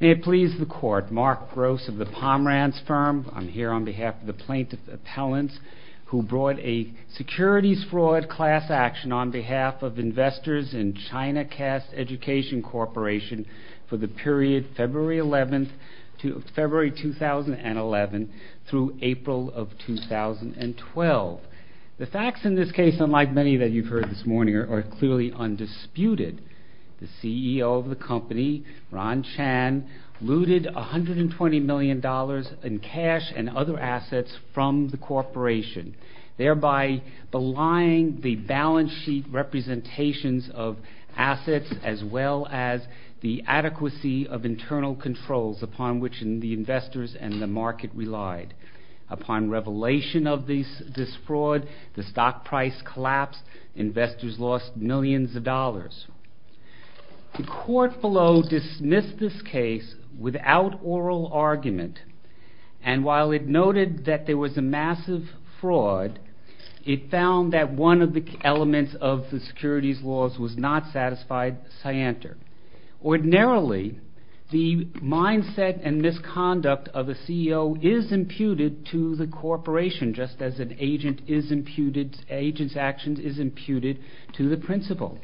May it please the Court, Mark Gross of the Pomeranz Firm. I'm here on behalf of the plaintiff's appellants who brought a securities fraud class action on behalf of investors in Chinacast Education Corporation for the period February 2011 through April of 2012. The facts in this case, unlike many that you've heard this morning, are clearly undisputed. The CEO of the company, Ron Chan, looted $120 million in cash and other assets from the corporation, thereby belying the balance sheet representations of assets as well as the adequacy of internal controls upon which the investors and the market relied. Upon revelation of this fraud, the stock price collapsed, investors lost millions of dollars. The court below dismissed this case without oral argument, and while it noted that there was a massive fraud, it found that one of the elements of the securities laws was not satisfied scienter. Ordinarily, the mindset and misconduct of a CEO is imputed to the corporation, just as an agent's actions is imputed to the principal.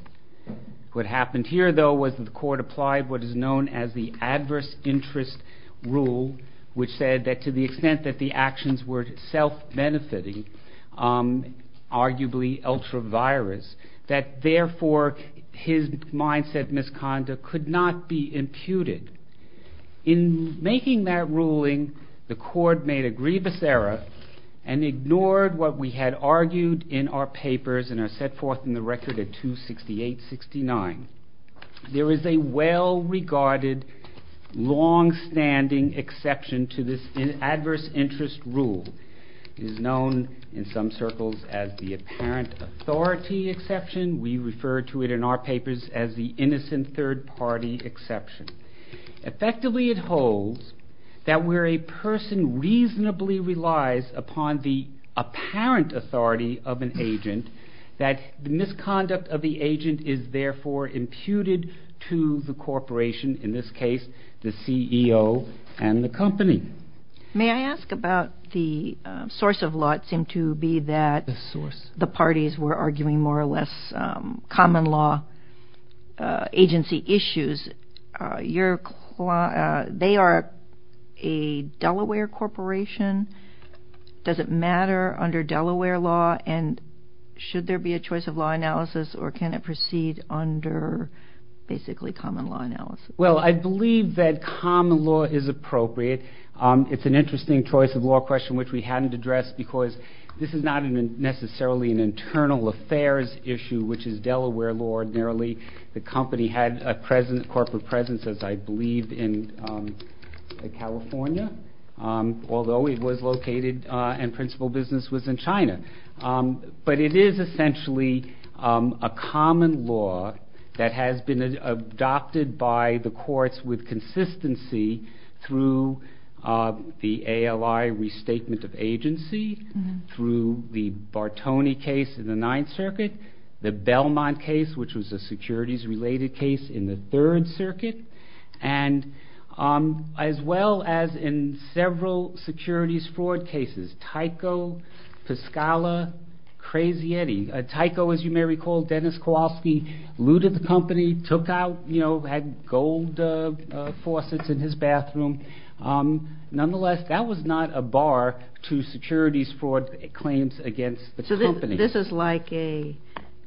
What happened here, though, was that the court applied what is known as the adverse interest rule, which said that to the extent that the actions were self-benefiting, arguably ultra-virus, that therefore his mindset and misconduct could not be imputed. In making that ruling, the court made a grievous error and ignored what we had argued in our papers and are set forth in the record at 268-69. There is a well-regarded, long-standing exception to this adverse interest rule. It is known in some circles as the apparent authority exception. We refer to it in our papers as the innocent third-party exception. Effectively, it holds that where a person reasonably relies upon the apparent authority of an agent, that the misconduct of the agent is therefore imputed to the corporation, in this case the CEO and the company. May I ask about the source of law? It seemed to be that the parties were arguing more or less common law agency issues. They are a Delaware corporation. Does it matter under Delaware law, and should there be a choice of law analysis, or can it proceed under basically common law analysis? Well, I believe that common law is appropriate. It's an interesting choice of law question which we hadn't addressed because this is not necessarily an internal affairs issue, which is Delaware law ordinarily. The company had a corporate presence, as I believe, in California, although it was located and principal business was in China. But it is essentially a common law that has been adopted by the courts with consistency through the ALI restatement of agency, through the Bartoni case in the Ninth Circuit, the Belmont case, which was a securities-related case in the Third Circuit, as well as in several securities fraud cases, Tyco, Piscala, Crazy Eddie. Tyco, as you may recall, Dennis Kowalski, looted the company, took out, had gold faucets in his bathroom. Nonetheless, that was not a bar to securities fraud claims against the company. So this is like a,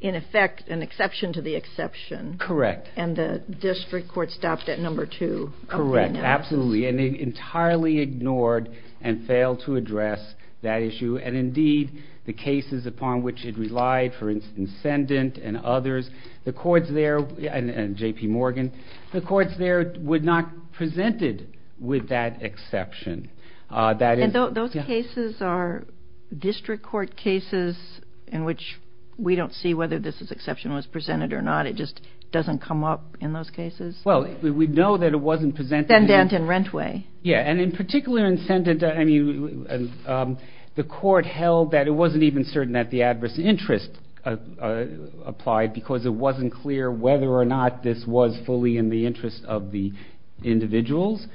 in effect, an exception to the exception. Correct. And the district court stopped at number two. Correct, absolutely, and it entirely ignored and failed to address that issue. And indeed, the cases upon which it relied, for instance, Sendint and others, the courts there, and J.P. Morgan, the courts there would not present it with that exception. And those cases are district court cases in which we don't see whether this exception was presented or not. It just doesn't come up in those cases? Well, we know that it wasn't presented. Sendint and Rentway. Yeah, and in particular in Sendint, the court held that it wasn't even certain that the adverse interest applied because it wasn't clear whether or not this was fully in the interest of the individuals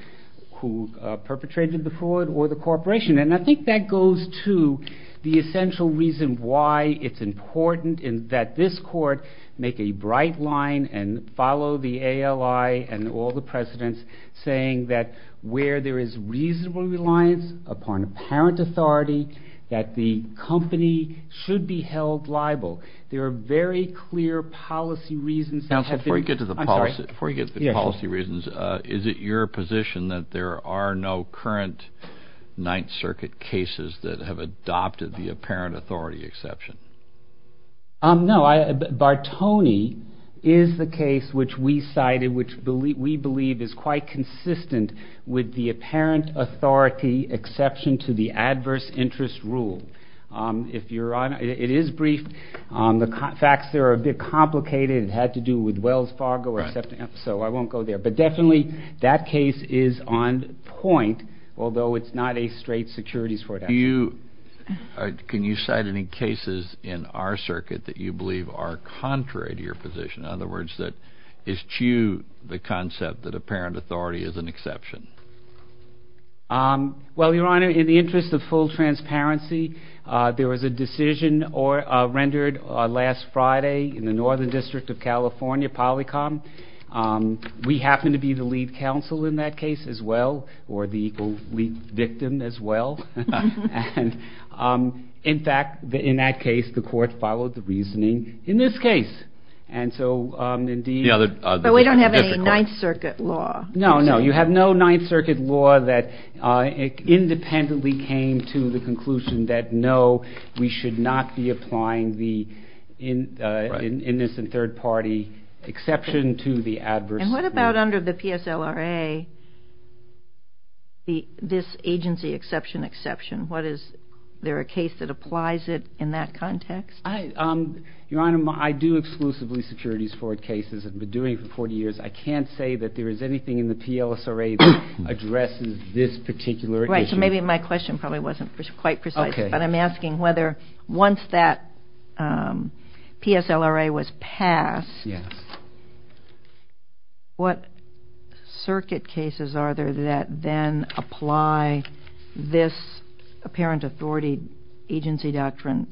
who perpetrated the fraud or the corporation. And I think that goes to the essential reason why it's important that this court make a bright line and follow the ALI and all the precedents saying that where there is reasonable reliance upon apparent authority, that the company should be held liable. There are very clear policy reasons. Now, before you get to the policy reasons, is it your position that there are no current Ninth Circuit cases that have adopted the apparent authority exception? No. Bartoni is the case which we cited, which we believe is quite consistent with the apparent authority exception to the adverse interest rule. It is brief. The facts there are a bit complicated. It had to do with Wells Fargo, so I won't go there. But definitely that case is on point, although it's not a straight securities court action. Can you cite any cases in our circuit that you believe are contrary to your position? In other words, that eschew the concept that apparent authority is an exception? Well, Your Honor, in the interest of full transparency, there was a decision rendered last Friday in the Northern District of California, Polycom. We happened to be the lead counsel in that case as well, or the lead victim as well. In fact, in that case, the court followed the reasoning in this case. But we don't have any Ninth Circuit law. No, no, you have no Ninth Circuit law that independently came to the conclusion that, no, we should not be applying the innocent third party exception to the adverse interest. And what about under the PSLRA, this agency exception exception? Is there a case that applies it in that context? Your Honor, I do exclusively securities court cases. I've been doing it for 40 years. I can't say that there is anything in the PSLRA that addresses this particular issue. Right, so maybe my question probably wasn't quite precise. But I'm asking whether once that PSLRA was passed, what circuit cases are there that then apply this apparent authority agency doctrine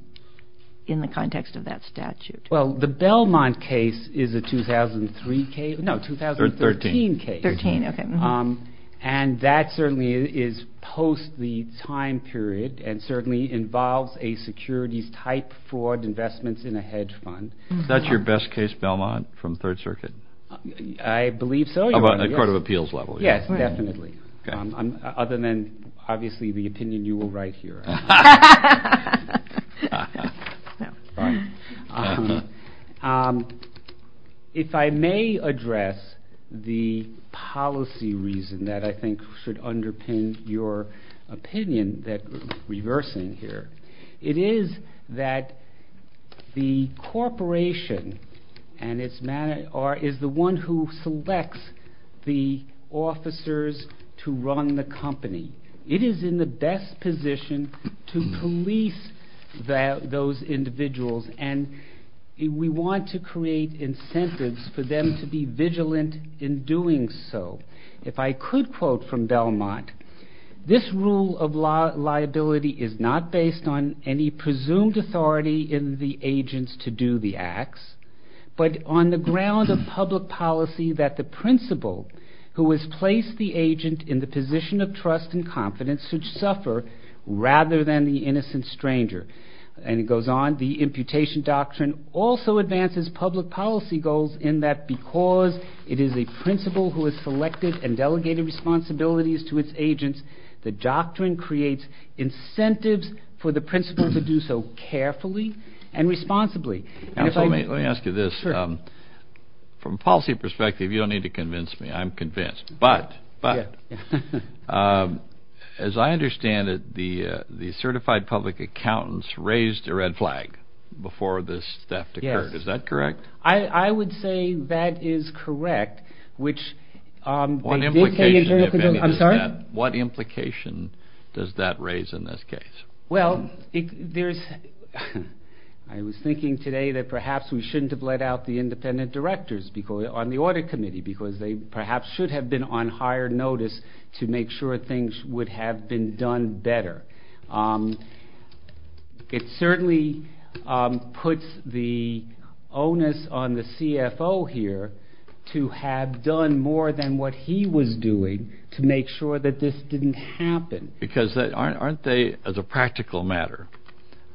in the context of that statute? Well, the Belmont case is a 2003 case. No, 2013 case. 13, okay. And that certainly is post the time period, and certainly involves a securities type fraud investments in a hedge fund. Is that your best case, Belmont, from Third Circuit? I believe so, Your Honor. At court of appeals level. Yes, definitely. Other than, obviously, the opinion you will write here. If I may address the policy reason that I think should underpin your opinion, reversing here. It is that the corporation and its manager is the one who selects the officers to run the company. It is in the best position to police those individuals, and we want to create incentives for them to be vigilant in doing so. If I could quote from Belmont, this rule of liability is not based on any presumed authority in the agents to do the acts, but on the ground of public policy that the principal, who has placed the agent in the position of trust and confidence, should suffer rather than the innocent stranger. And it goes on, the imputation doctrine also advances public policy goals in that because it is a principal who has selected and delegated responsibilities to its agents, the doctrine creates incentives for the principal to do so carefully and responsibly. Let me ask you this. From a policy perspective, you don't need to convince me. I'm convinced. But, as I understand it, the certified public accountants raised a red flag before this theft occurred. Is that correct? I would say that is correct. What implication does that raise in this case? Well, I was thinking today that perhaps we shouldn't have let out the independent directors on the audit committee because they perhaps should have been on higher notice to make sure things would have been done better. It certainly puts the onus on the CFO here to have done more than what he was doing to make sure that this didn't happen. Because aren't they, as a practical matter,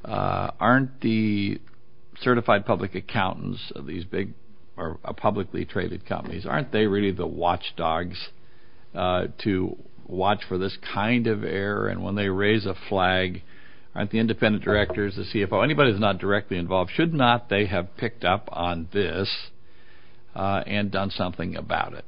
aren't the certified public accountants of these publicly traded companies, aren't they really the watchdogs to watch for this kind of error? And when they raise a flag, aren't the independent directors, the CFO, anybody that's not directly involved, should not they have picked up on this and done something about it?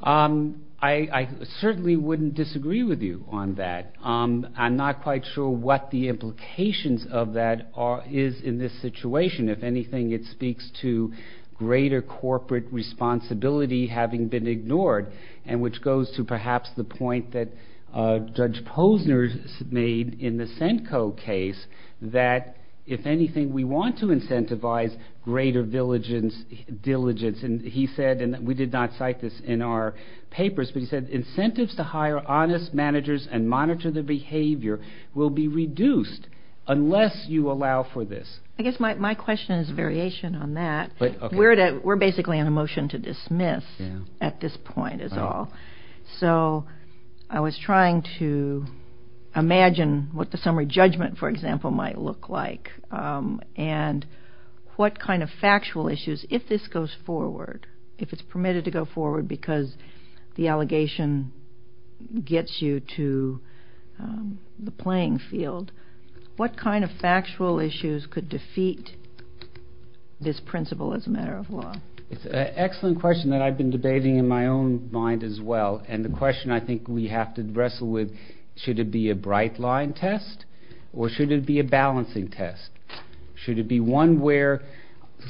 I certainly wouldn't disagree with you on that. I'm not quite sure what the implications of that is in this situation. If anything, it speaks to greater corporate responsibility having been ignored, and which goes to perhaps the point that Judge Posner made in the Centco case, that if anything, we want to incentivize greater diligence. And he said, and we did not cite this in our papers, but he said incentives to hire honest managers and monitor their behavior will be reduced unless you allow for this. I guess my question is a variation on that. We're basically on a motion to dismiss at this point is all. So I was trying to imagine what the summary judgment, for example, might look like, and what kind of factual issues, if this goes forward, if it's permitted to go forward because the allegation gets you to the playing field, what kind of factual issues could defeat this principle as a matter of law? It's an excellent question that I've been debating in my own mind as well. And the question I think we have to wrestle with, should it be a bright line test or should it be a balancing test? Should it be one where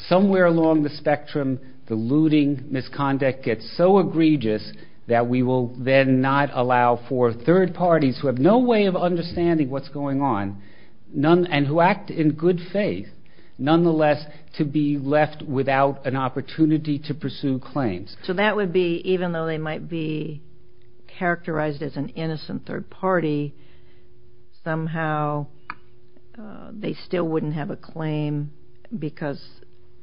somewhere along the spectrum the looting misconduct gets so egregious that we will then not allow for third parties who have no way of understanding what's going on and who act in good faith nonetheless to be left without an opportunity to pursue claims? So that would be, even though they might be characterized as an innocent third party, somehow they still wouldn't have a claim because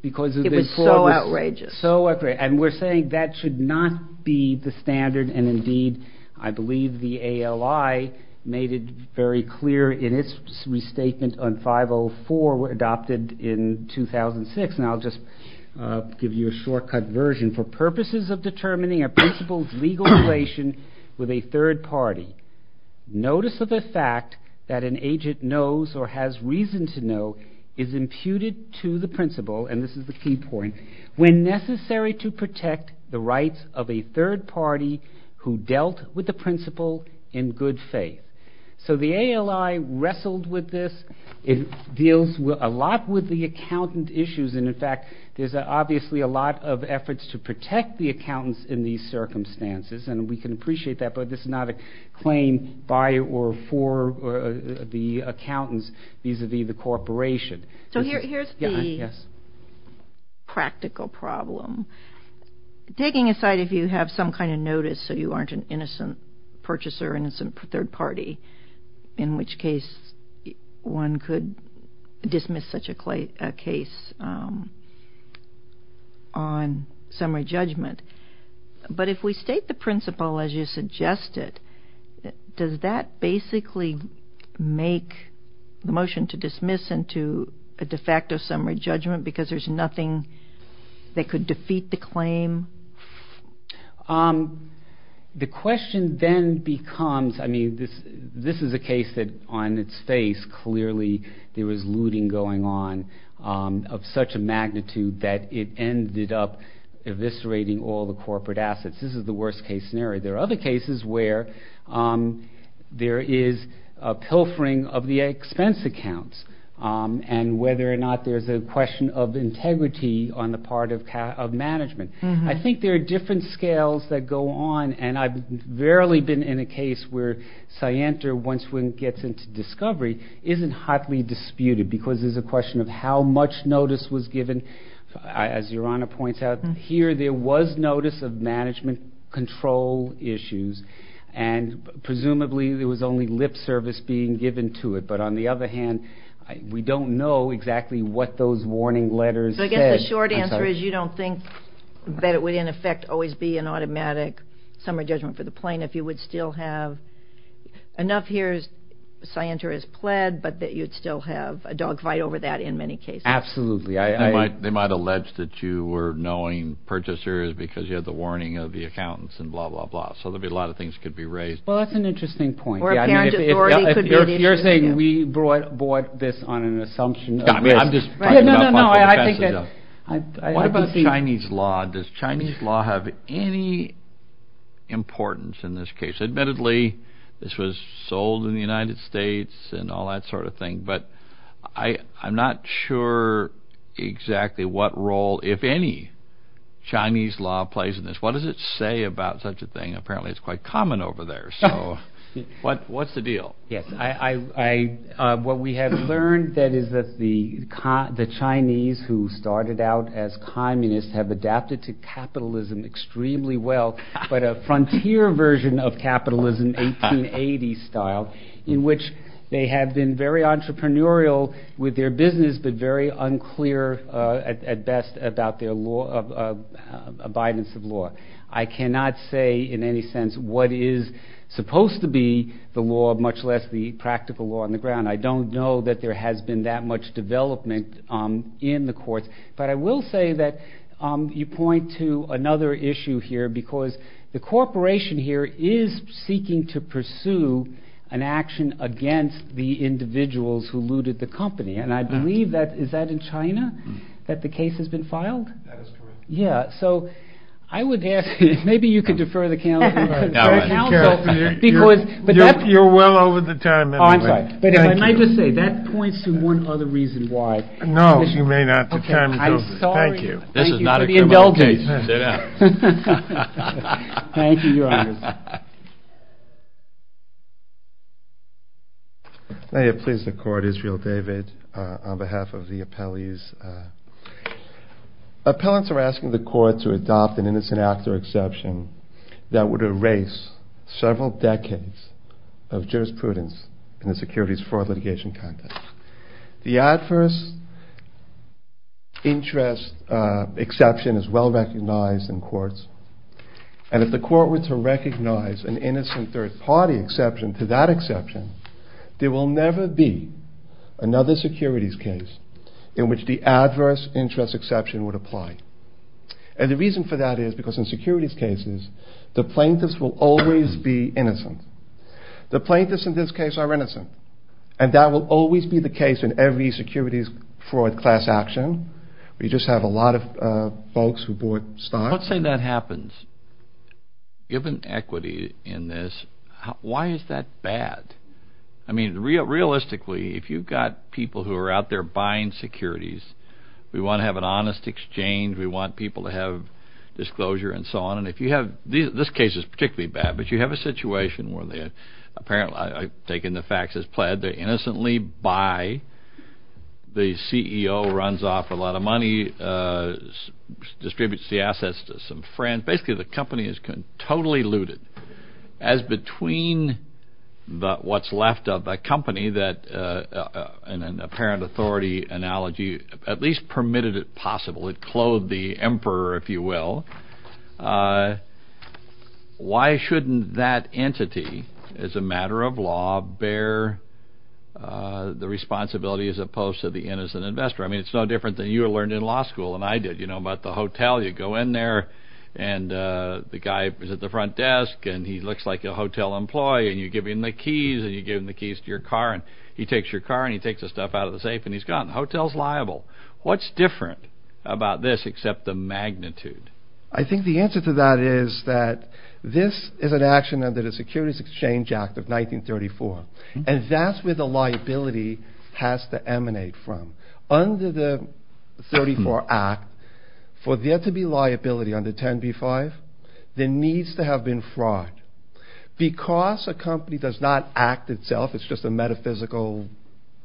it was so outrageous. And we're saying that should not be the standard. And indeed, I believe the ALI made it very clear in its restatement on 504 adopted in 2006. And I'll just give you a shortcut version. For purposes of determining a principle's legal relation with a third party, notice of the fact that an agent knows or has reason to know is imputed to the principle, and this is the key point, when necessary to protect the rights of a third party who dealt with the principle in good faith. So the ALI wrestled with this. It deals a lot with the accountant issues. And in fact, there's obviously a lot of efforts to protect the accountants in these circumstances, and we can appreciate that, but this is not a claim by or for the accountants vis-à-vis the corporation. So here's the practical problem. Taking aside if you have some kind of notice so you aren't an innocent purchaser, and it's a third party, in which case one could dismiss such a case on summary judgment. But if we state the principle as you suggested, does that basically make the motion to dismiss into a de facto summary judgment because there's nothing that could defeat the claim? The question then becomes, I mean, this is a case that on its face clearly there was looting going on of such a magnitude that it ended up eviscerating all the corporate assets. This is the worst case scenario. There are other cases where there is a pilfering of the expense accounts and whether or not there's a question of integrity on the part of management. I think there are different scales that go on, and I've rarely been in a case where scienter once one gets into discovery isn't hotly disputed because there's a question of how much notice was given. As Your Honor points out, here there was notice of management control issues, and presumably there was only lip service being given to it. But on the other hand, we don't know exactly what those warning letters said. The short answer is you don't think that it would, in effect, always be an automatic summary judgment for the plaintiff. You would still have enough here scienter has pled, but that you'd still have a dogfight over that in many cases. Absolutely. They might allege that you were knowing purchasers because you had the warning of the accountants and blah, blah, blah. So there'd be a lot of things that could be raised. Well, that's an interesting point. If you're saying we brought this on an assumption of risk. What about Chinese law? Does Chinese law have any importance in this case? Admittedly, this was sold in the United States and all that sort of thing, but I'm not sure exactly what role, if any, Chinese law plays in this. What does it say about such a thing? Apparently it's quite common over there, so what's the deal? What we have learned is that the Chinese who started out as communists have adapted to capitalism extremely well, but a frontier version of capitalism, 1880 style, in which they have been very entrepreneurial with their business, but very unclear at best about their abidance of law. I cannot say in any sense what is supposed to be the law, much less the practical law on the ground. I don't know that there has been that much development in the courts, but I will say that you point to another issue here because the corporation here is seeking to pursue an action against the individuals who looted the company, and I believe that, is that in China, that the case has been filed? That is correct. Yeah, so I would ask, maybe you could defer the counsel. You're well over the time anyway. Oh, I'm sorry. But if I might just say, that points to one other reason why. No, you may not. The time is over. Okay, I'm sorry. Thank you for the indulgence. This is not a criminal case. Sit down. Thank you, Your Honor. May it please the Court, Israel David, on behalf of the appellees. Appellants are asking the Court to adopt an innocent actor exception that would erase several decades of jurisprudence in the securities fraud litigation context. The adverse interest exception is well recognized in courts, and if the Court were to recognize an innocent third-party exception to that exception, there will never be another securities case in which the adverse interest exception would apply. And the reason for that is because in securities cases, the plaintiffs will always be innocent. The plaintiffs in this case are innocent, and that will always be the case in every securities fraud class action. We just have a lot of folks who bought stocks. Let's say that happens. Given equity in this, why is that bad? I mean, realistically, if you've got people who are out there buying securities, we want to have an honest exchange. We want people to have disclosure and so on. And if you have this case is particularly bad, but you have a situation where apparently I've taken the facts as pled. They innocently buy. The CEO runs off a lot of money, distributes the assets to some friends. Basically, the company is totally looted. As between what's left of a company that, in an apparent authority analogy, at least permitted it possible, it clothed the emperor, if you will, why shouldn't that entity, as a matter of law, bear the responsibility as opposed to the innocent investor? I mean, it's no different than you learned in law school, and I did. You know about the hotel. You go in there, and the guy is at the front desk, and he looks like a hotel employee, and you give him the keys, and you give him the keys to your car, and he takes your car, and he takes the stuff out of the safe, and he's gone. The hotel's liable. What's different about this except the magnitude? I think the answer to that is that this is an action under the Securities Exchange Act of 1934, and that's where the liability has to emanate from. Under the 1934 Act, for there to be liability under 10b-5, there needs to have been fraud. Because a company does not act itself, it's just a metaphysical item.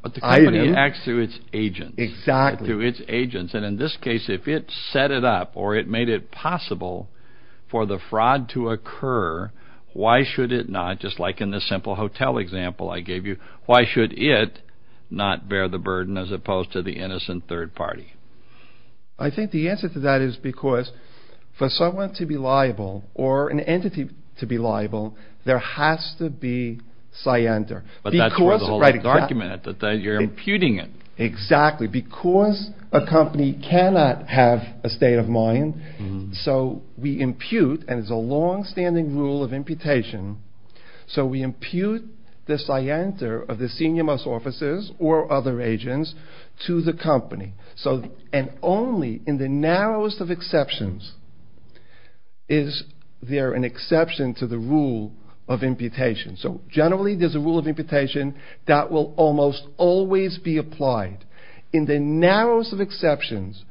But the company acts through its agents. Exactly. Through its agents, and in this case, if it set it up or it made it possible for the fraud to occur, why should it not, just like in this simple hotel example I gave you, why should it not bear the burden as opposed to the innocent third party? I think the answer to that is because for someone to be liable or an entity to be liable, there has to be scienter. But that's where the whole argument is. You're imputing it. Exactly. Because a company cannot have a state of mind, so we impute, and it's a longstanding rule of imputation, so we impute the scienter of the senior most offices or other agents to the company. And only in the narrowest of exceptions is there an exception to the rule of imputation. So generally, there's a rule of imputation that will almost always be applied. In the narrowest of exceptions,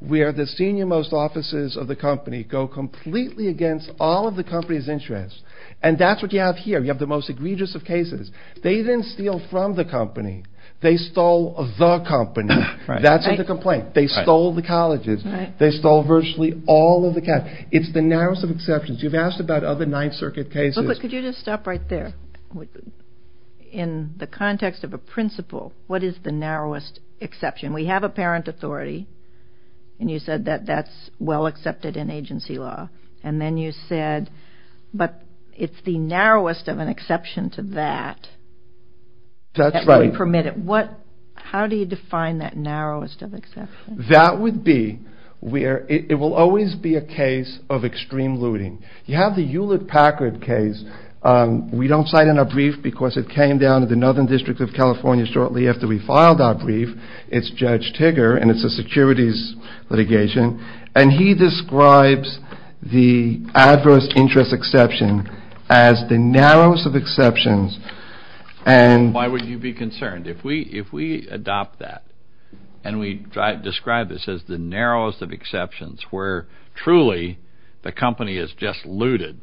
where the senior most offices of the company go completely against all of the company's interests, and that's what you have here. You have the most egregious of cases. They didn't steal from the company. They stole the company. That's the complaint. They stole the colleges. They stole virtually all of the cash. It's the narrowest of exceptions. You've asked about other Ninth Circuit cases. But could you just stop right there? In the context of a principle, what is the narrowest exception? We have a parent authority, and you said that that's well accepted in agency law. And then you said, but it's the narrowest of an exception to that. That's right. How do you define that narrowest of exceptions? That would be where it will always be a case of extreme looting. You have the Hewlett-Packard case. We don't cite in our brief because it came down to the Northern District of California shortly after we filed our brief. It's Judge Tigger, and it's a securities litigation. And he describes the adverse interest exception as the narrowest of exceptions. Why would you be concerned? If we adopt that and we describe this as the narrowest of exceptions where truly the company is just looted,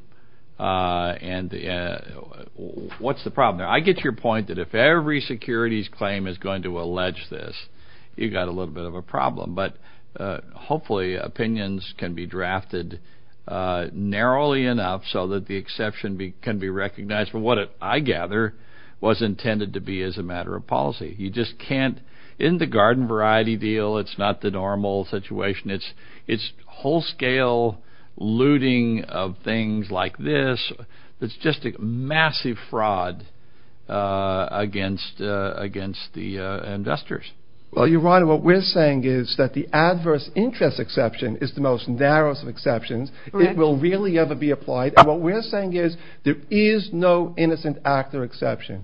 what's the problem there? I get your point that if every securities claim is going to allege this, you've got a little bit of a problem. But hopefully opinions can be drafted narrowly enough so that the exception can be recognized. But what I gather was intended to be as a matter of policy. You just can't. Isn't the garden variety deal, it's not the normal situation. It's whole-scale looting of things like this. It's just a massive fraud against the investors. Well, you're right. What we're saying is that the adverse interest exception is the most narrow of exceptions. It will rarely ever be applied. What we're saying is there is no innocent actor exception.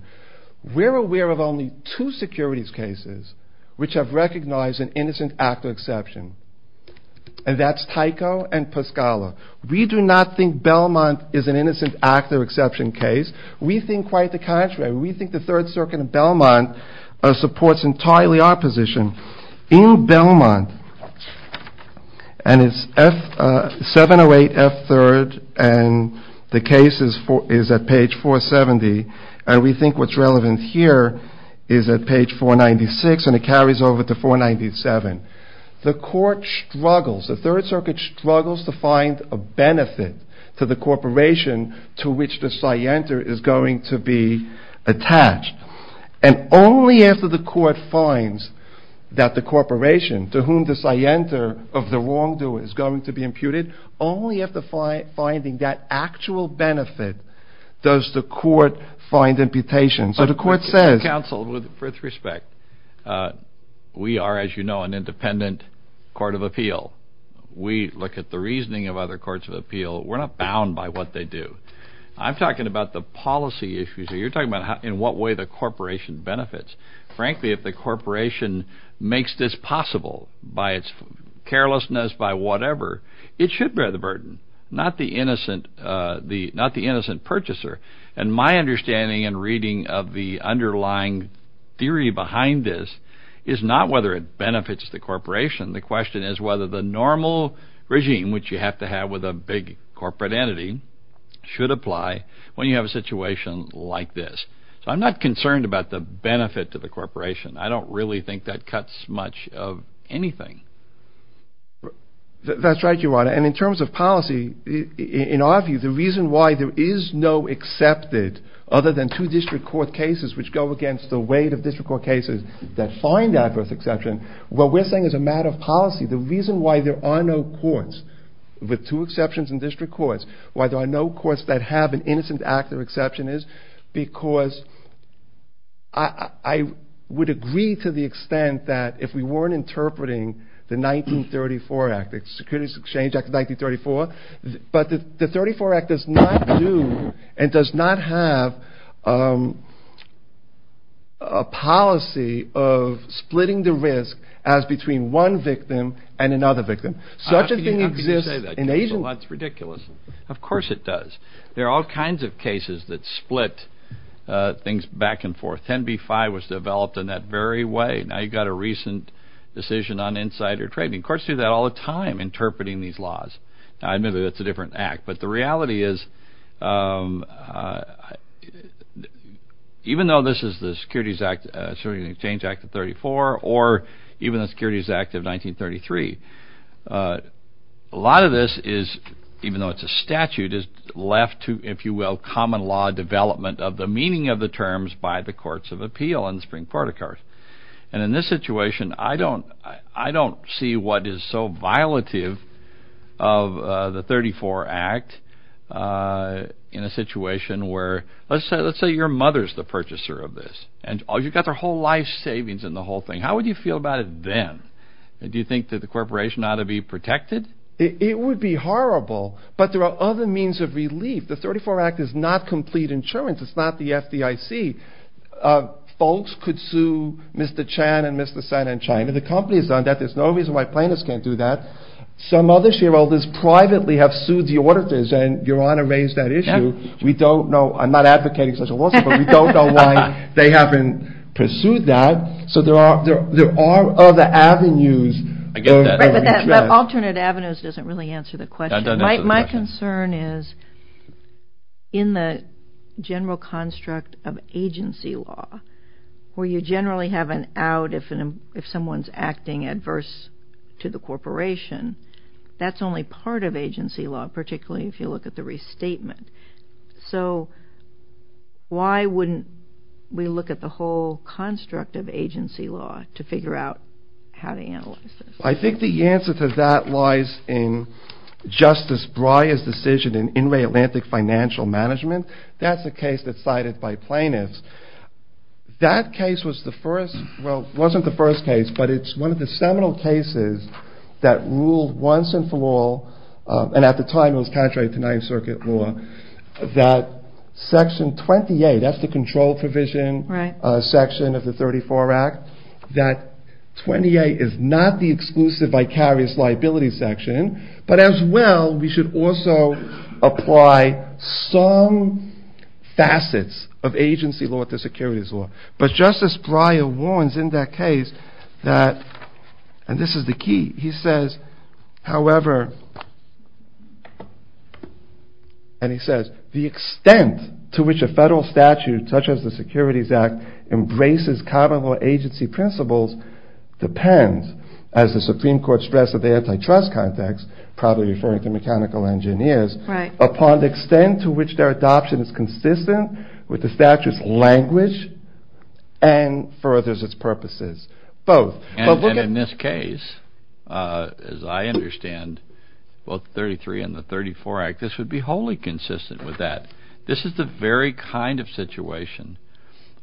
We're aware of only two securities cases which have recognized an innocent actor exception. And that's Tyco and Pascala. We do not think Belmont is an innocent actor exception case. We think quite the contrary. We think the Third Circuit of Belmont supports entirely our position. In Belmont, and it's 708F3rd, and the case is at page 470. And we think what's relevant here is at page 496, and it carries over to 497. The court struggles, the Third Circuit struggles to find a benefit to the corporation to which the scienter is going to be attached. And only after the court finds that the corporation to whom the scienter of the wrongdoer is going to be imputed, only after finding that actual benefit does the court find imputation. Counsel, with respect, we are, as you know, an independent court of appeal. We look at the reasoning of other courts of appeal. We're not bound by what they do. I'm talking about the policy issues here. You're talking about in what way the corporation benefits. Frankly, if the corporation makes this possible by its carelessness, by whatever, it should bear the burden, not the innocent purchaser. And my understanding and reading of the underlying theory behind this is not whether it benefits the corporation. The question is whether the normal regime, which you have to have with a big corporate entity, should apply when you have a situation like this. So I'm not concerned about the benefit to the corporation. I don't really think that cuts much of anything. That's right, Your Honor. And in terms of policy, in our view, the reason why there is no accepted other than two district court cases, which go against the weight of district court cases that find adverse exception, what we're saying is a matter of policy. The reason why there are no courts with two exceptions in district courts, why there are no courts that have an innocent actor exception is because I would agree to the extent that if we weren't interpreting the 1934 Act, the Securities Exchange Act of 1934. But the 1934 Act does not do and does not have a policy of splitting the risk as between one victim and another victim. How can you say that? Such a thing exists in Asian... Well, that's ridiculous. Of course it does. There are all kinds of cases that split things back and forth. 10b-5 was developed in that very way. Now, you've got a recent decision on insider trading. Courts do that all the time, interpreting these laws. Now, I admit that that's a different act, but the reality is even though this is the Securities Exchange Act of 1934 or even the Securities Act of 1933, a lot of this is, even though it's a statute, is left to, if you will, common law development of the meaning of the terms by the courts of appeal in the Supreme Court of Courts. And in this situation, I don't see what is so violative of the 1934 Act in a situation where, let's say your mother's the purchaser of this, and you've got their whole life savings in the whole thing. How would you feel about it then? Do you think that the corporation ought to be protected? It would be horrible, but there are other means of relief. The 1934 Act is not complete insurance. It's not the FDIC. Folks could sue Mr. Chan and Mr. Sen and China. The company's done that. There's no reason why plaintiffs can't do that. Some other shareholders privately have sued the auditors, and Your Honor raised that issue. We don't know. I'm not advocating such a lawsuit, but we don't know why they haven't pursued that. So there are other avenues. Alternate avenues doesn't really answer the question. My concern is in the general construct of agency law where you generally have an out if someone's acting adverse to the corporation, that's only part of agency law, particularly if you look at the restatement. So why wouldn't we look at the whole construct of agency law to figure out how to analyze this? I think the answer to that lies in Justice Breyer's decision in Inouye Atlantic Financial Management. That's a case that's cited by plaintiffs. That case was the first, well, it wasn't the first case, but it's one of the seminal cases that ruled once and for all, and at the time it was contrary to Ninth Circuit law, that Section 28, that's the control provision section of the 34 Act, that 28 is not the exclusive vicarious liability section, but as well we should also apply some facets of agency law to securities law. But Justice Breyer warns in that case that, and this is the key, he says, however, and he says, the extent to which a federal statute such as the Securities Act embraces common law agency principles depends, as the Supreme Court stressed in the antitrust context, probably referring to mechanical engineers, upon the extent to which their adoption is consistent with the statute's language and furthers its purposes. Both. And in this case, as I understand, both 33 and the 34 Act, this would be wholly consistent with that. This is the very kind of situation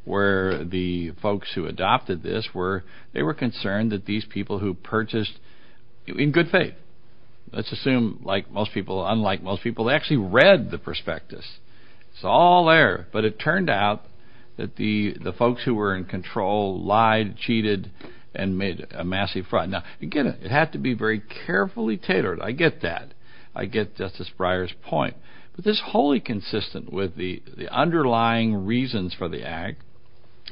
where the folks who adopted this were, they were concerned that these people who purchased, in good faith, let's assume like most people, unlike most people, they actually read the prospectus. It's all there. But it turned out that the folks who were in control lied, cheated, and made a massive fraud. Now, again, it had to be very carefully tailored. I get that. I get Justice Breyer's point. But this is wholly consistent with the underlying reasons for the Act,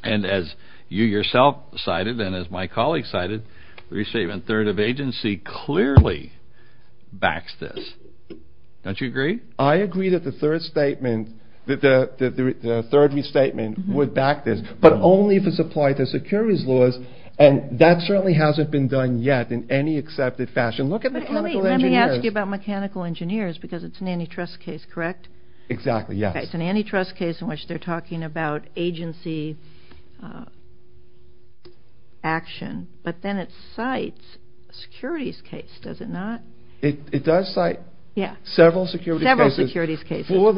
and as you yourself cited and as my colleague cited, the restatement third of agency clearly backs this. Don't you agree? I agree that the third restatement would back this, but only if it's applied to securities laws, and that certainly hasn't been done yet in any accepted fashion. Look at mechanical engineers. Let me ask you about mechanical engineers because it's an antitrust case, correct? Exactly, yes. Okay, it's an antitrust case in which they're talking about agency action, but then it cites a securities case, does it not? It does cite several securities cases for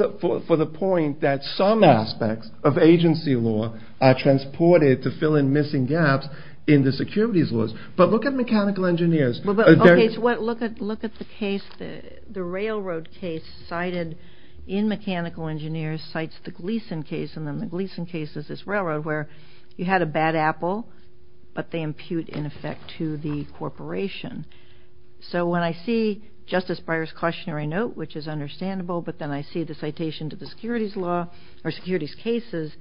the point that some aspects of agency law are transported to fill in missing gaps in the securities laws. But look at mechanical engineers. Okay, so look at the case, the railroad case cited in mechanical engineers cites the Gleason case, and then the Gleason case is this railroad where you had a bad apple, but they impute in effect to the corporation. So when I see Justice Breyer's cautionary note, which is understandable, but then I see the citation to the securities law or securities cases,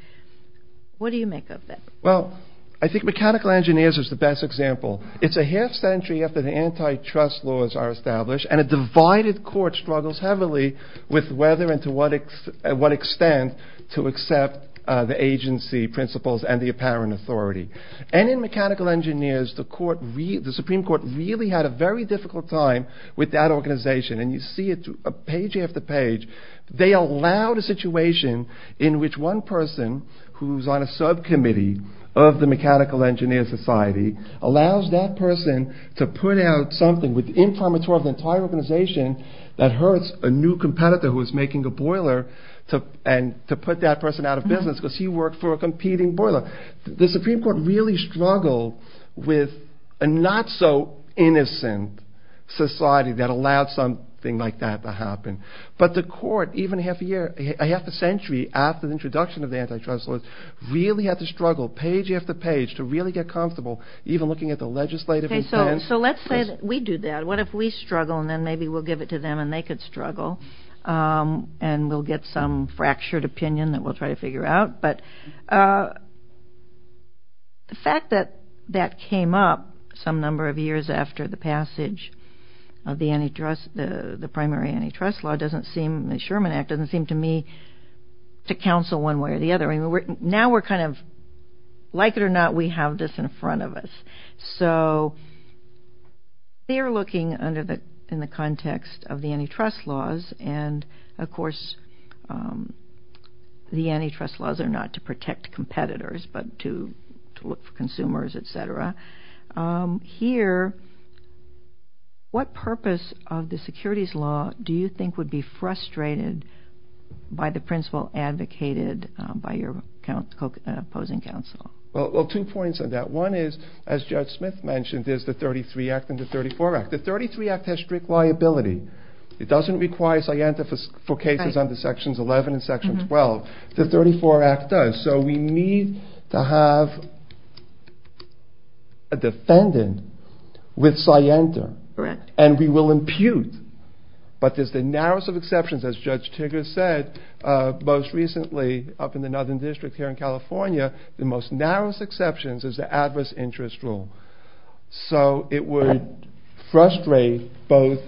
what do you make of that? Well, I think mechanical engineers is the best example. It's a half century after the antitrust laws are established, and a divided court struggles heavily with whether and to what extent to accept the agency principles and the apparent authority. And in mechanical engineers, the Supreme Court really had a very difficult time with that organization, and you see it page after page. They allowed a situation in which one person who's on a subcommittee of the mechanical engineer society allows that person to put out something informatory of the entire organization that hurts a new competitor who is making a boiler and to put that person out of business because he worked for a competing boiler. The Supreme Court really struggled with a not so innocent society that allowed something like that to happen. But the court, even a half a century after the introduction of the antitrust laws, really had to struggle page after page to really get comfortable even looking at the legislative intent. Okay, so let's say that we do that. What if we struggle and then maybe we'll give it to them and they could struggle and we'll get some fractured opinion that we'll try to figure out? But the fact that that came up some number of years after the passage of the primary antitrust law doesn't seem, the Sherman Act doesn't seem to me to counsel one way or the other. Now we're kind of, like it or not, we have this in front of us. So they're looking in the context of the antitrust laws, and of course the antitrust laws are not to protect competitors but to look for consumers, et cetera. Here, what purpose of the securities law do you think would be frustrated by the principle advocated by your opposing counsel? Well, two points on that. One is, as Judge Smith mentioned, is the 33 Act and the 34 Act. The 33 Act has strict liability. It doesn't require scientific cases under sections 11 and section 12. The 34 Act does. So we need to have a defendant with scienter. Correct. And we will impute. But there's the narrowest of exceptions, as Judge Tigger said most recently up in the Northern District here in California, the most narrowest exceptions is the adverse interest rule. So it would frustrate both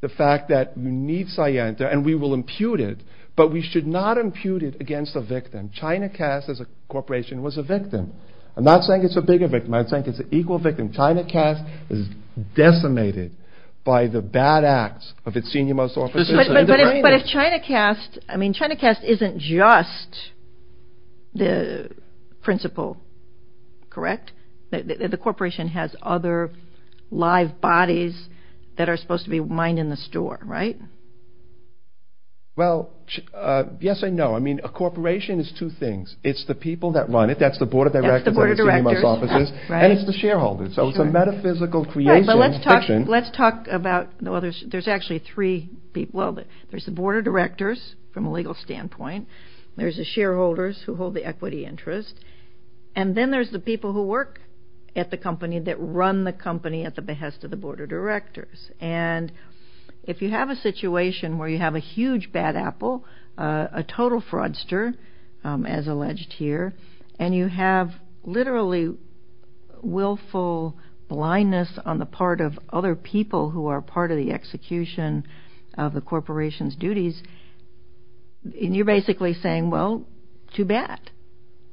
the fact that we need scienter and we will impute it, but we should not impute it against a victim. Chinacast as a corporation was a victim. I'm not saying it's a bigger victim. I'm saying it's an equal victim. Chinacast is decimated by the bad acts of its senior most officers. But if Chinacast, I mean, Chinacast isn't just the principle, correct? The corporation has other live bodies that are supposed to be mined in the store, right? Well, yes and no. I mean, a corporation is two things. It's the people that run it. That's the board of directors. That's the board of directors. And it's the shareholders. So it's a metaphysical creation. Let's talk about the others. There's actually three people. Well, there's the board of directors from a legal standpoint. There's the shareholders who hold the equity interest. And then there's the people who work at the company that run the company at the behest of the board of directors. And if you have a situation where you have a huge bad apple, a total fraudster, as alleged here, and you have literally willful blindness on the part of other people who are part of the execution of the corporation's duties, you're basically saying, well, too bad.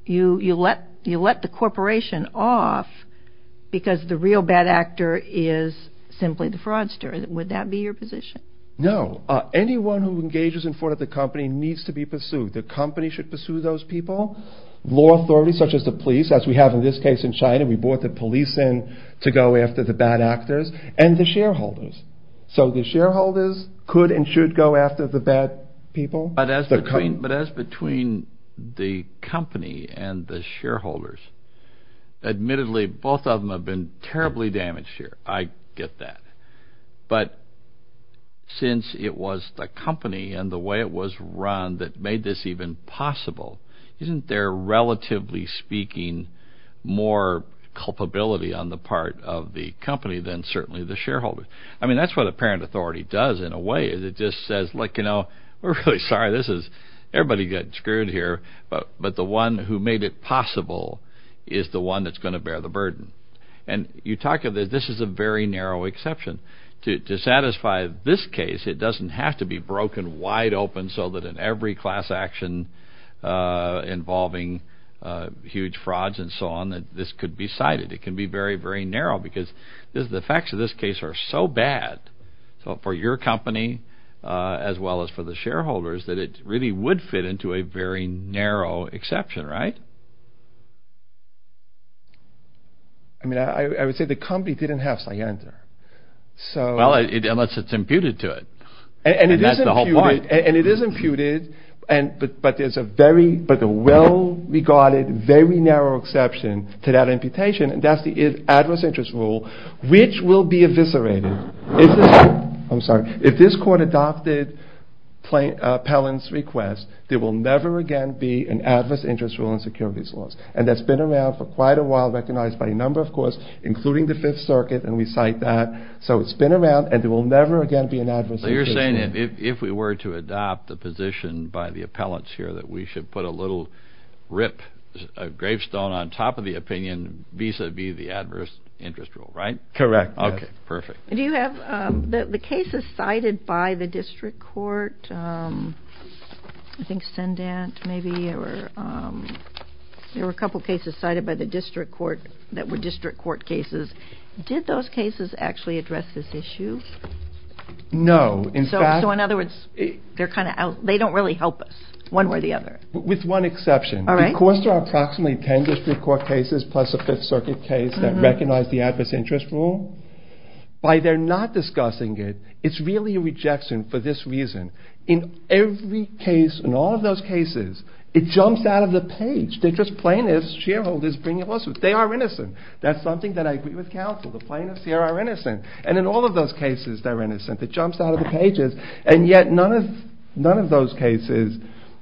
You let the corporation off because the real bad actor is simply the fraudster. Would that be your position? No. Anyone who engages in fraud at the company needs to be pursued. The company should pursue those people. Law authorities such as the police, as we have in this case in China. We brought the police in to go after the bad actors. And the shareholders. So the shareholders could and should go after the bad people. But as between the company and the shareholders, admittedly, both of them have been terribly damaged here. I get that. But since it was the company and the way it was run that made this even possible, isn't there, relatively speaking, more culpability on the part of the company than certainly the shareholders? I mean, that's what a parent authority does in a way. It just says, look, you know, we're really sorry. Everybody got screwed here. But the one who made it possible is the one that's going to bear the burden. And you talk of this. This is a very narrow exception. To satisfy this case, it doesn't have to be broken wide open so that in every class action involving huge frauds and so on, that this could be cited. It can be very, very narrow because this is the facts of this case are so bad. So for your company, as well as for the shareholders, that it really would fit into a very narrow exception. Right. I mean, I would say the company didn't have cyanide. So unless it's imputed to it. And that's the whole point. And it is imputed. But there's a very well regarded, very narrow exception to that imputation. And that's the adverse interest rule, which will be eviscerated. I'm sorry. If this court adopted Pellin's request, there will never again be an adverse interest rule in securities laws. And that's been around for quite a while, recognized by a number of courts, including the Fifth Circuit. And we cite that. So you're saying if we were to adopt the position by the appellants here that we should put a little rip, a gravestone on top of the opinion vis-a-vis the adverse interest rule, right? Correct. Okay, perfect. Do you have the cases cited by the district court? I think Stendant, maybe. There were a couple of cases cited by the district court that were district court cases. Did those cases actually address this issue? No. So in other words, they don't really help us, one way or the other. With one exception. All right. Because there are approximately 10 district court cases plus a Fifth Circuit case that recognize the adverse interest rule, by their not discussing it, it's really a rejection for this reason. In every case, in all of those cases, it jumps out of the page. They're just plaintiffs, shareholders bringing lawsuits. They are innocent. That's something that I agree with counsel. The plaintiffs here are innocent. And in all of those cases, they're innocent. It jumps out of the pages. And yet, none of those cases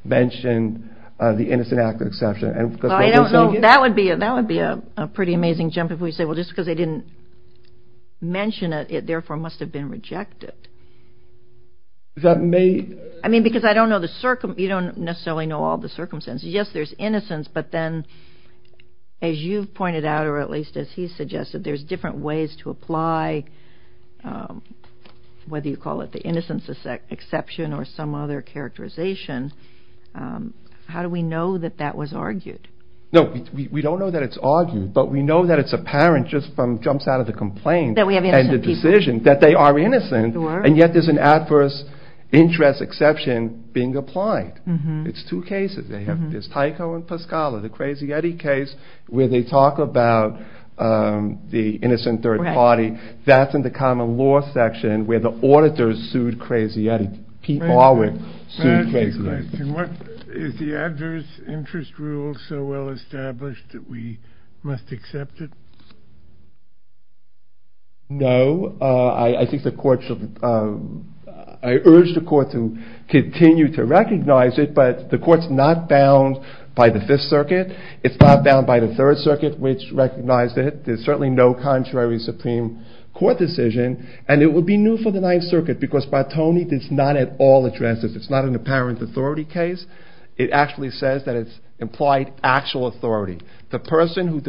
mention the innocent act of exception. I don't know. That would be a pretty amazing jump if we say, well, just because they didn't mention it, it therefore must have been rejected. I mean, because I don't know the circumstance. You don't necessarily know all the circumstances. Yes, there's innocence, but then, as you've pointed out, or at least as he suggested, there's different ways to apply whether you call it the innocence exception or some other characterization. How do we know that that was argued? No, we don't know that it's argued, but we know that it's apparent just from jumps out of the complaint and the decision that they are innocent, and yet there's an adverse interest exception being applied. It's two cases. There's Tyco and Pascala, the Crazy Eddie case where they talk about the innocent third party. That's in the common law section where the auditors sued Crazy Eddie. Pete Barwick sued Crazy Eddie. May I ask you a question? Is the adverse interest rule so well established that we must accept it? No. I urge the court to continue to recognize it, but the court's not bound by the Fifth Circuit. It's not bound by the Third Circuit, which recognized it. There's certainly no contrary Supreme Court decision, and it would be new for the Ninth Circuit because Bartoni does not at all address this. It's not an apparent authority case. It actually says that it's implied actual authority. The person who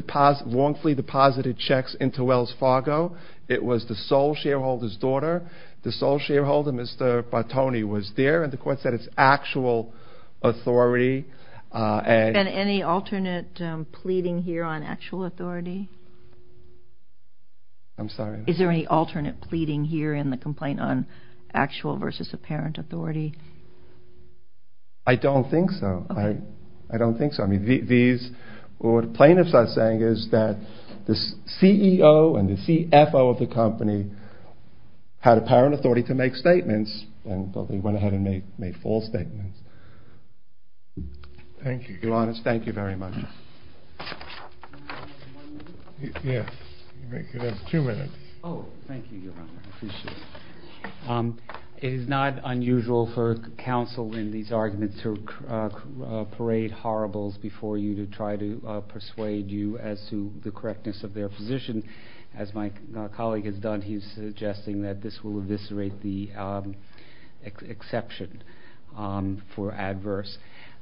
wrongfully deposited checks into Wells Fargo, it was the sole shareholder's daughter. The sole shareholder, Mr. Bartoni, was there, and the court said it's actual authority. Is there any alternate pleading here on actual authority? I'm sorry? Is there any alternate pleading here in the complaint on actual versus apparent authority? I don't think so. I don't think so. What the plaintiffs are saying is that the CEO and the CFO of the company had apparent authority to make statements, but they went ahead and made false statements. Thank you. Your Honor, thank you very much. One minute? Yes. You have two minutes. Oh, thank you, Your Honor. I appreciate it. It is not unusual for counsel in these arguments to parade horribles before you to try to persuade you as to the correctness of their position. As my colleague has done, he's suggesting that this will eviscerate the exception for adverse.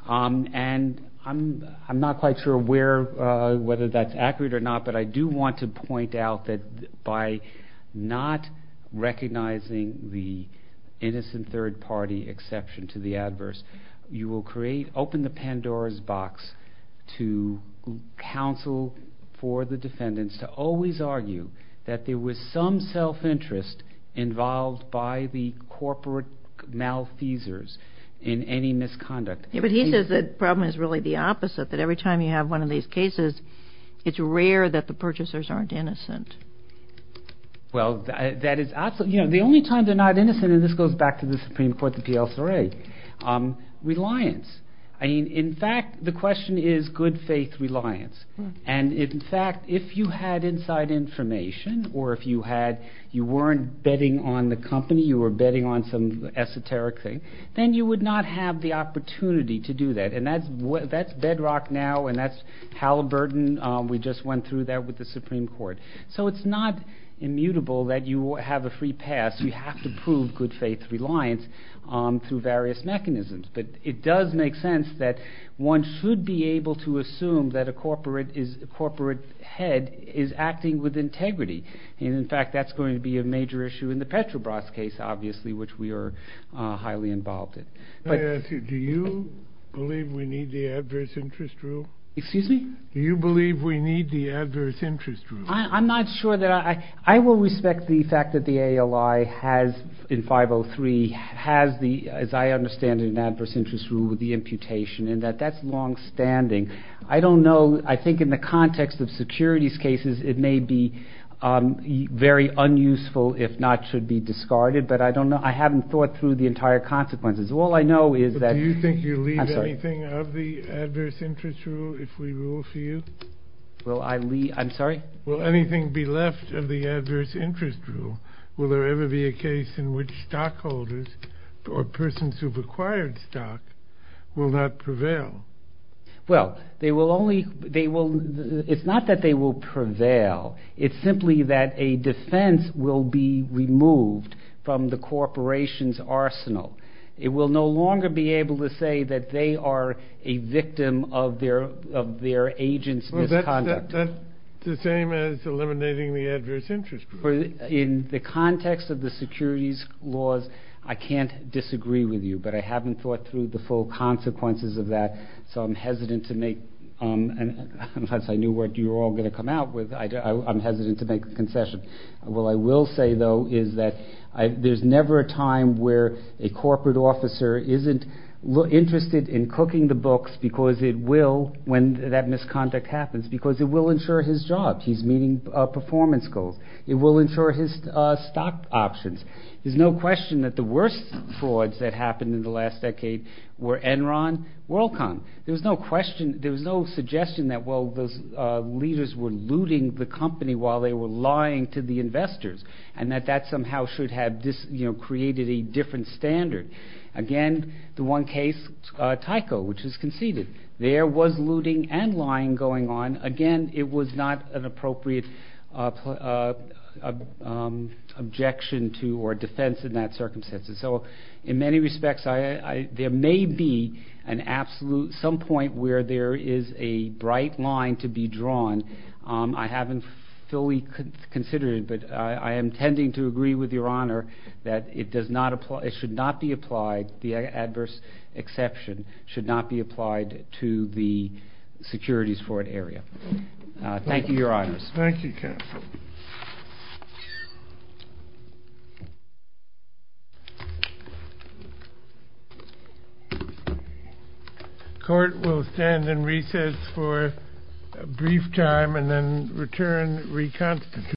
And I'm not quite sure whether that's accurate or not, but I do want to point out that by not recognizing the innocent third-party exception to the adverse, you will open the Pandora's box to counsel for the defendants to always argue that there was some self-interest involved by the corporate malfeasors in any misconduct. But he says the problem is really the opposite, that every time you have one of these cases, it's rare that the purchasers aren't innocent. Well, the only time they're not innocent, and this goes back to the Supreme Court, the PLCRA, reliance. In fact, the question is good-faith reliance. And, in fact, if you had inside information or if you weren't betting on the company, you were betting on some esoteric thing, then you would not have the opportunity to do that. And that's bedrock now, and that's Halliburton. We just went through that with the Supreme Court. So it's not immutable that you have a free pass. You have to prove good-faith reliance through various mechanisms. But it does make sense that one should be able to assume that a corporate head is acting with integrity. And, in fact, that's going to be a major issue in the Petrobras case, obviously, which we are highly involved in. Let me ask you, do you believe we need the adverse interest rule? Excuse me? Do you believe we need the adverse interest rule? I'm not sure that I—I will respect the fact that the ALI has, in 503, has the, as I understand it, an adverse interest rule with the imputation, and that that's longstanding. I don't know. I think in the context of securities cases, it may be very unuseful, if not should be discarded. But I don't know. I haven't thought through the entire consequences. All I know is that— Do you think you leave anything of the adverse interest rule if we rule for you? Will I leave—I'm sorry? Will anything be left of the adverse interest rule? Will there ever be a case in which stockholders or persons who've acquired stock will not prevail? Well, they will only—they will—it's not that they will prevail. It's simply that a defense will be removed from the corporation's arsenal. It will no longer be able to say that they are a victim of their agent's misconduct. Well, that's the same as eliminating the adverse interest rule. In the context of the securities laws, I can't disagree with you. But I haven't thought through the full consequences of that, so I'm hesitant to make— unless I knew what you were all going to come out with, I'm hesitant to make the concession. What I will say, though, is that there's never a time where a corporate officer isn't interested in cooking the books because it will, when that misconduct happens, because it will insure his job. He's meeting performance goals. It will insure his stock options. There's no question that the worst frauds that happened in the last decade were Enron, WorldCom. There was no question—there was no suggestion that, well, those leaders were looting the company while they were lying to the investors and that that somehow should have created a different standard. Again, the one case, Tyco, which was conceded. There was looting and lying going on. Again, it was not an appropriate objection to or defense in that circumstance. So in many respects, there may be an absolute—some point where there is a bright line to be drawn. I haven't fully considered it, but I am tending to agree with Your Honor that it does not apply— it should not be applied—the adverse exception should not be applied to the securities fraud area. Thank you, Your Honors. Thank you, counsel.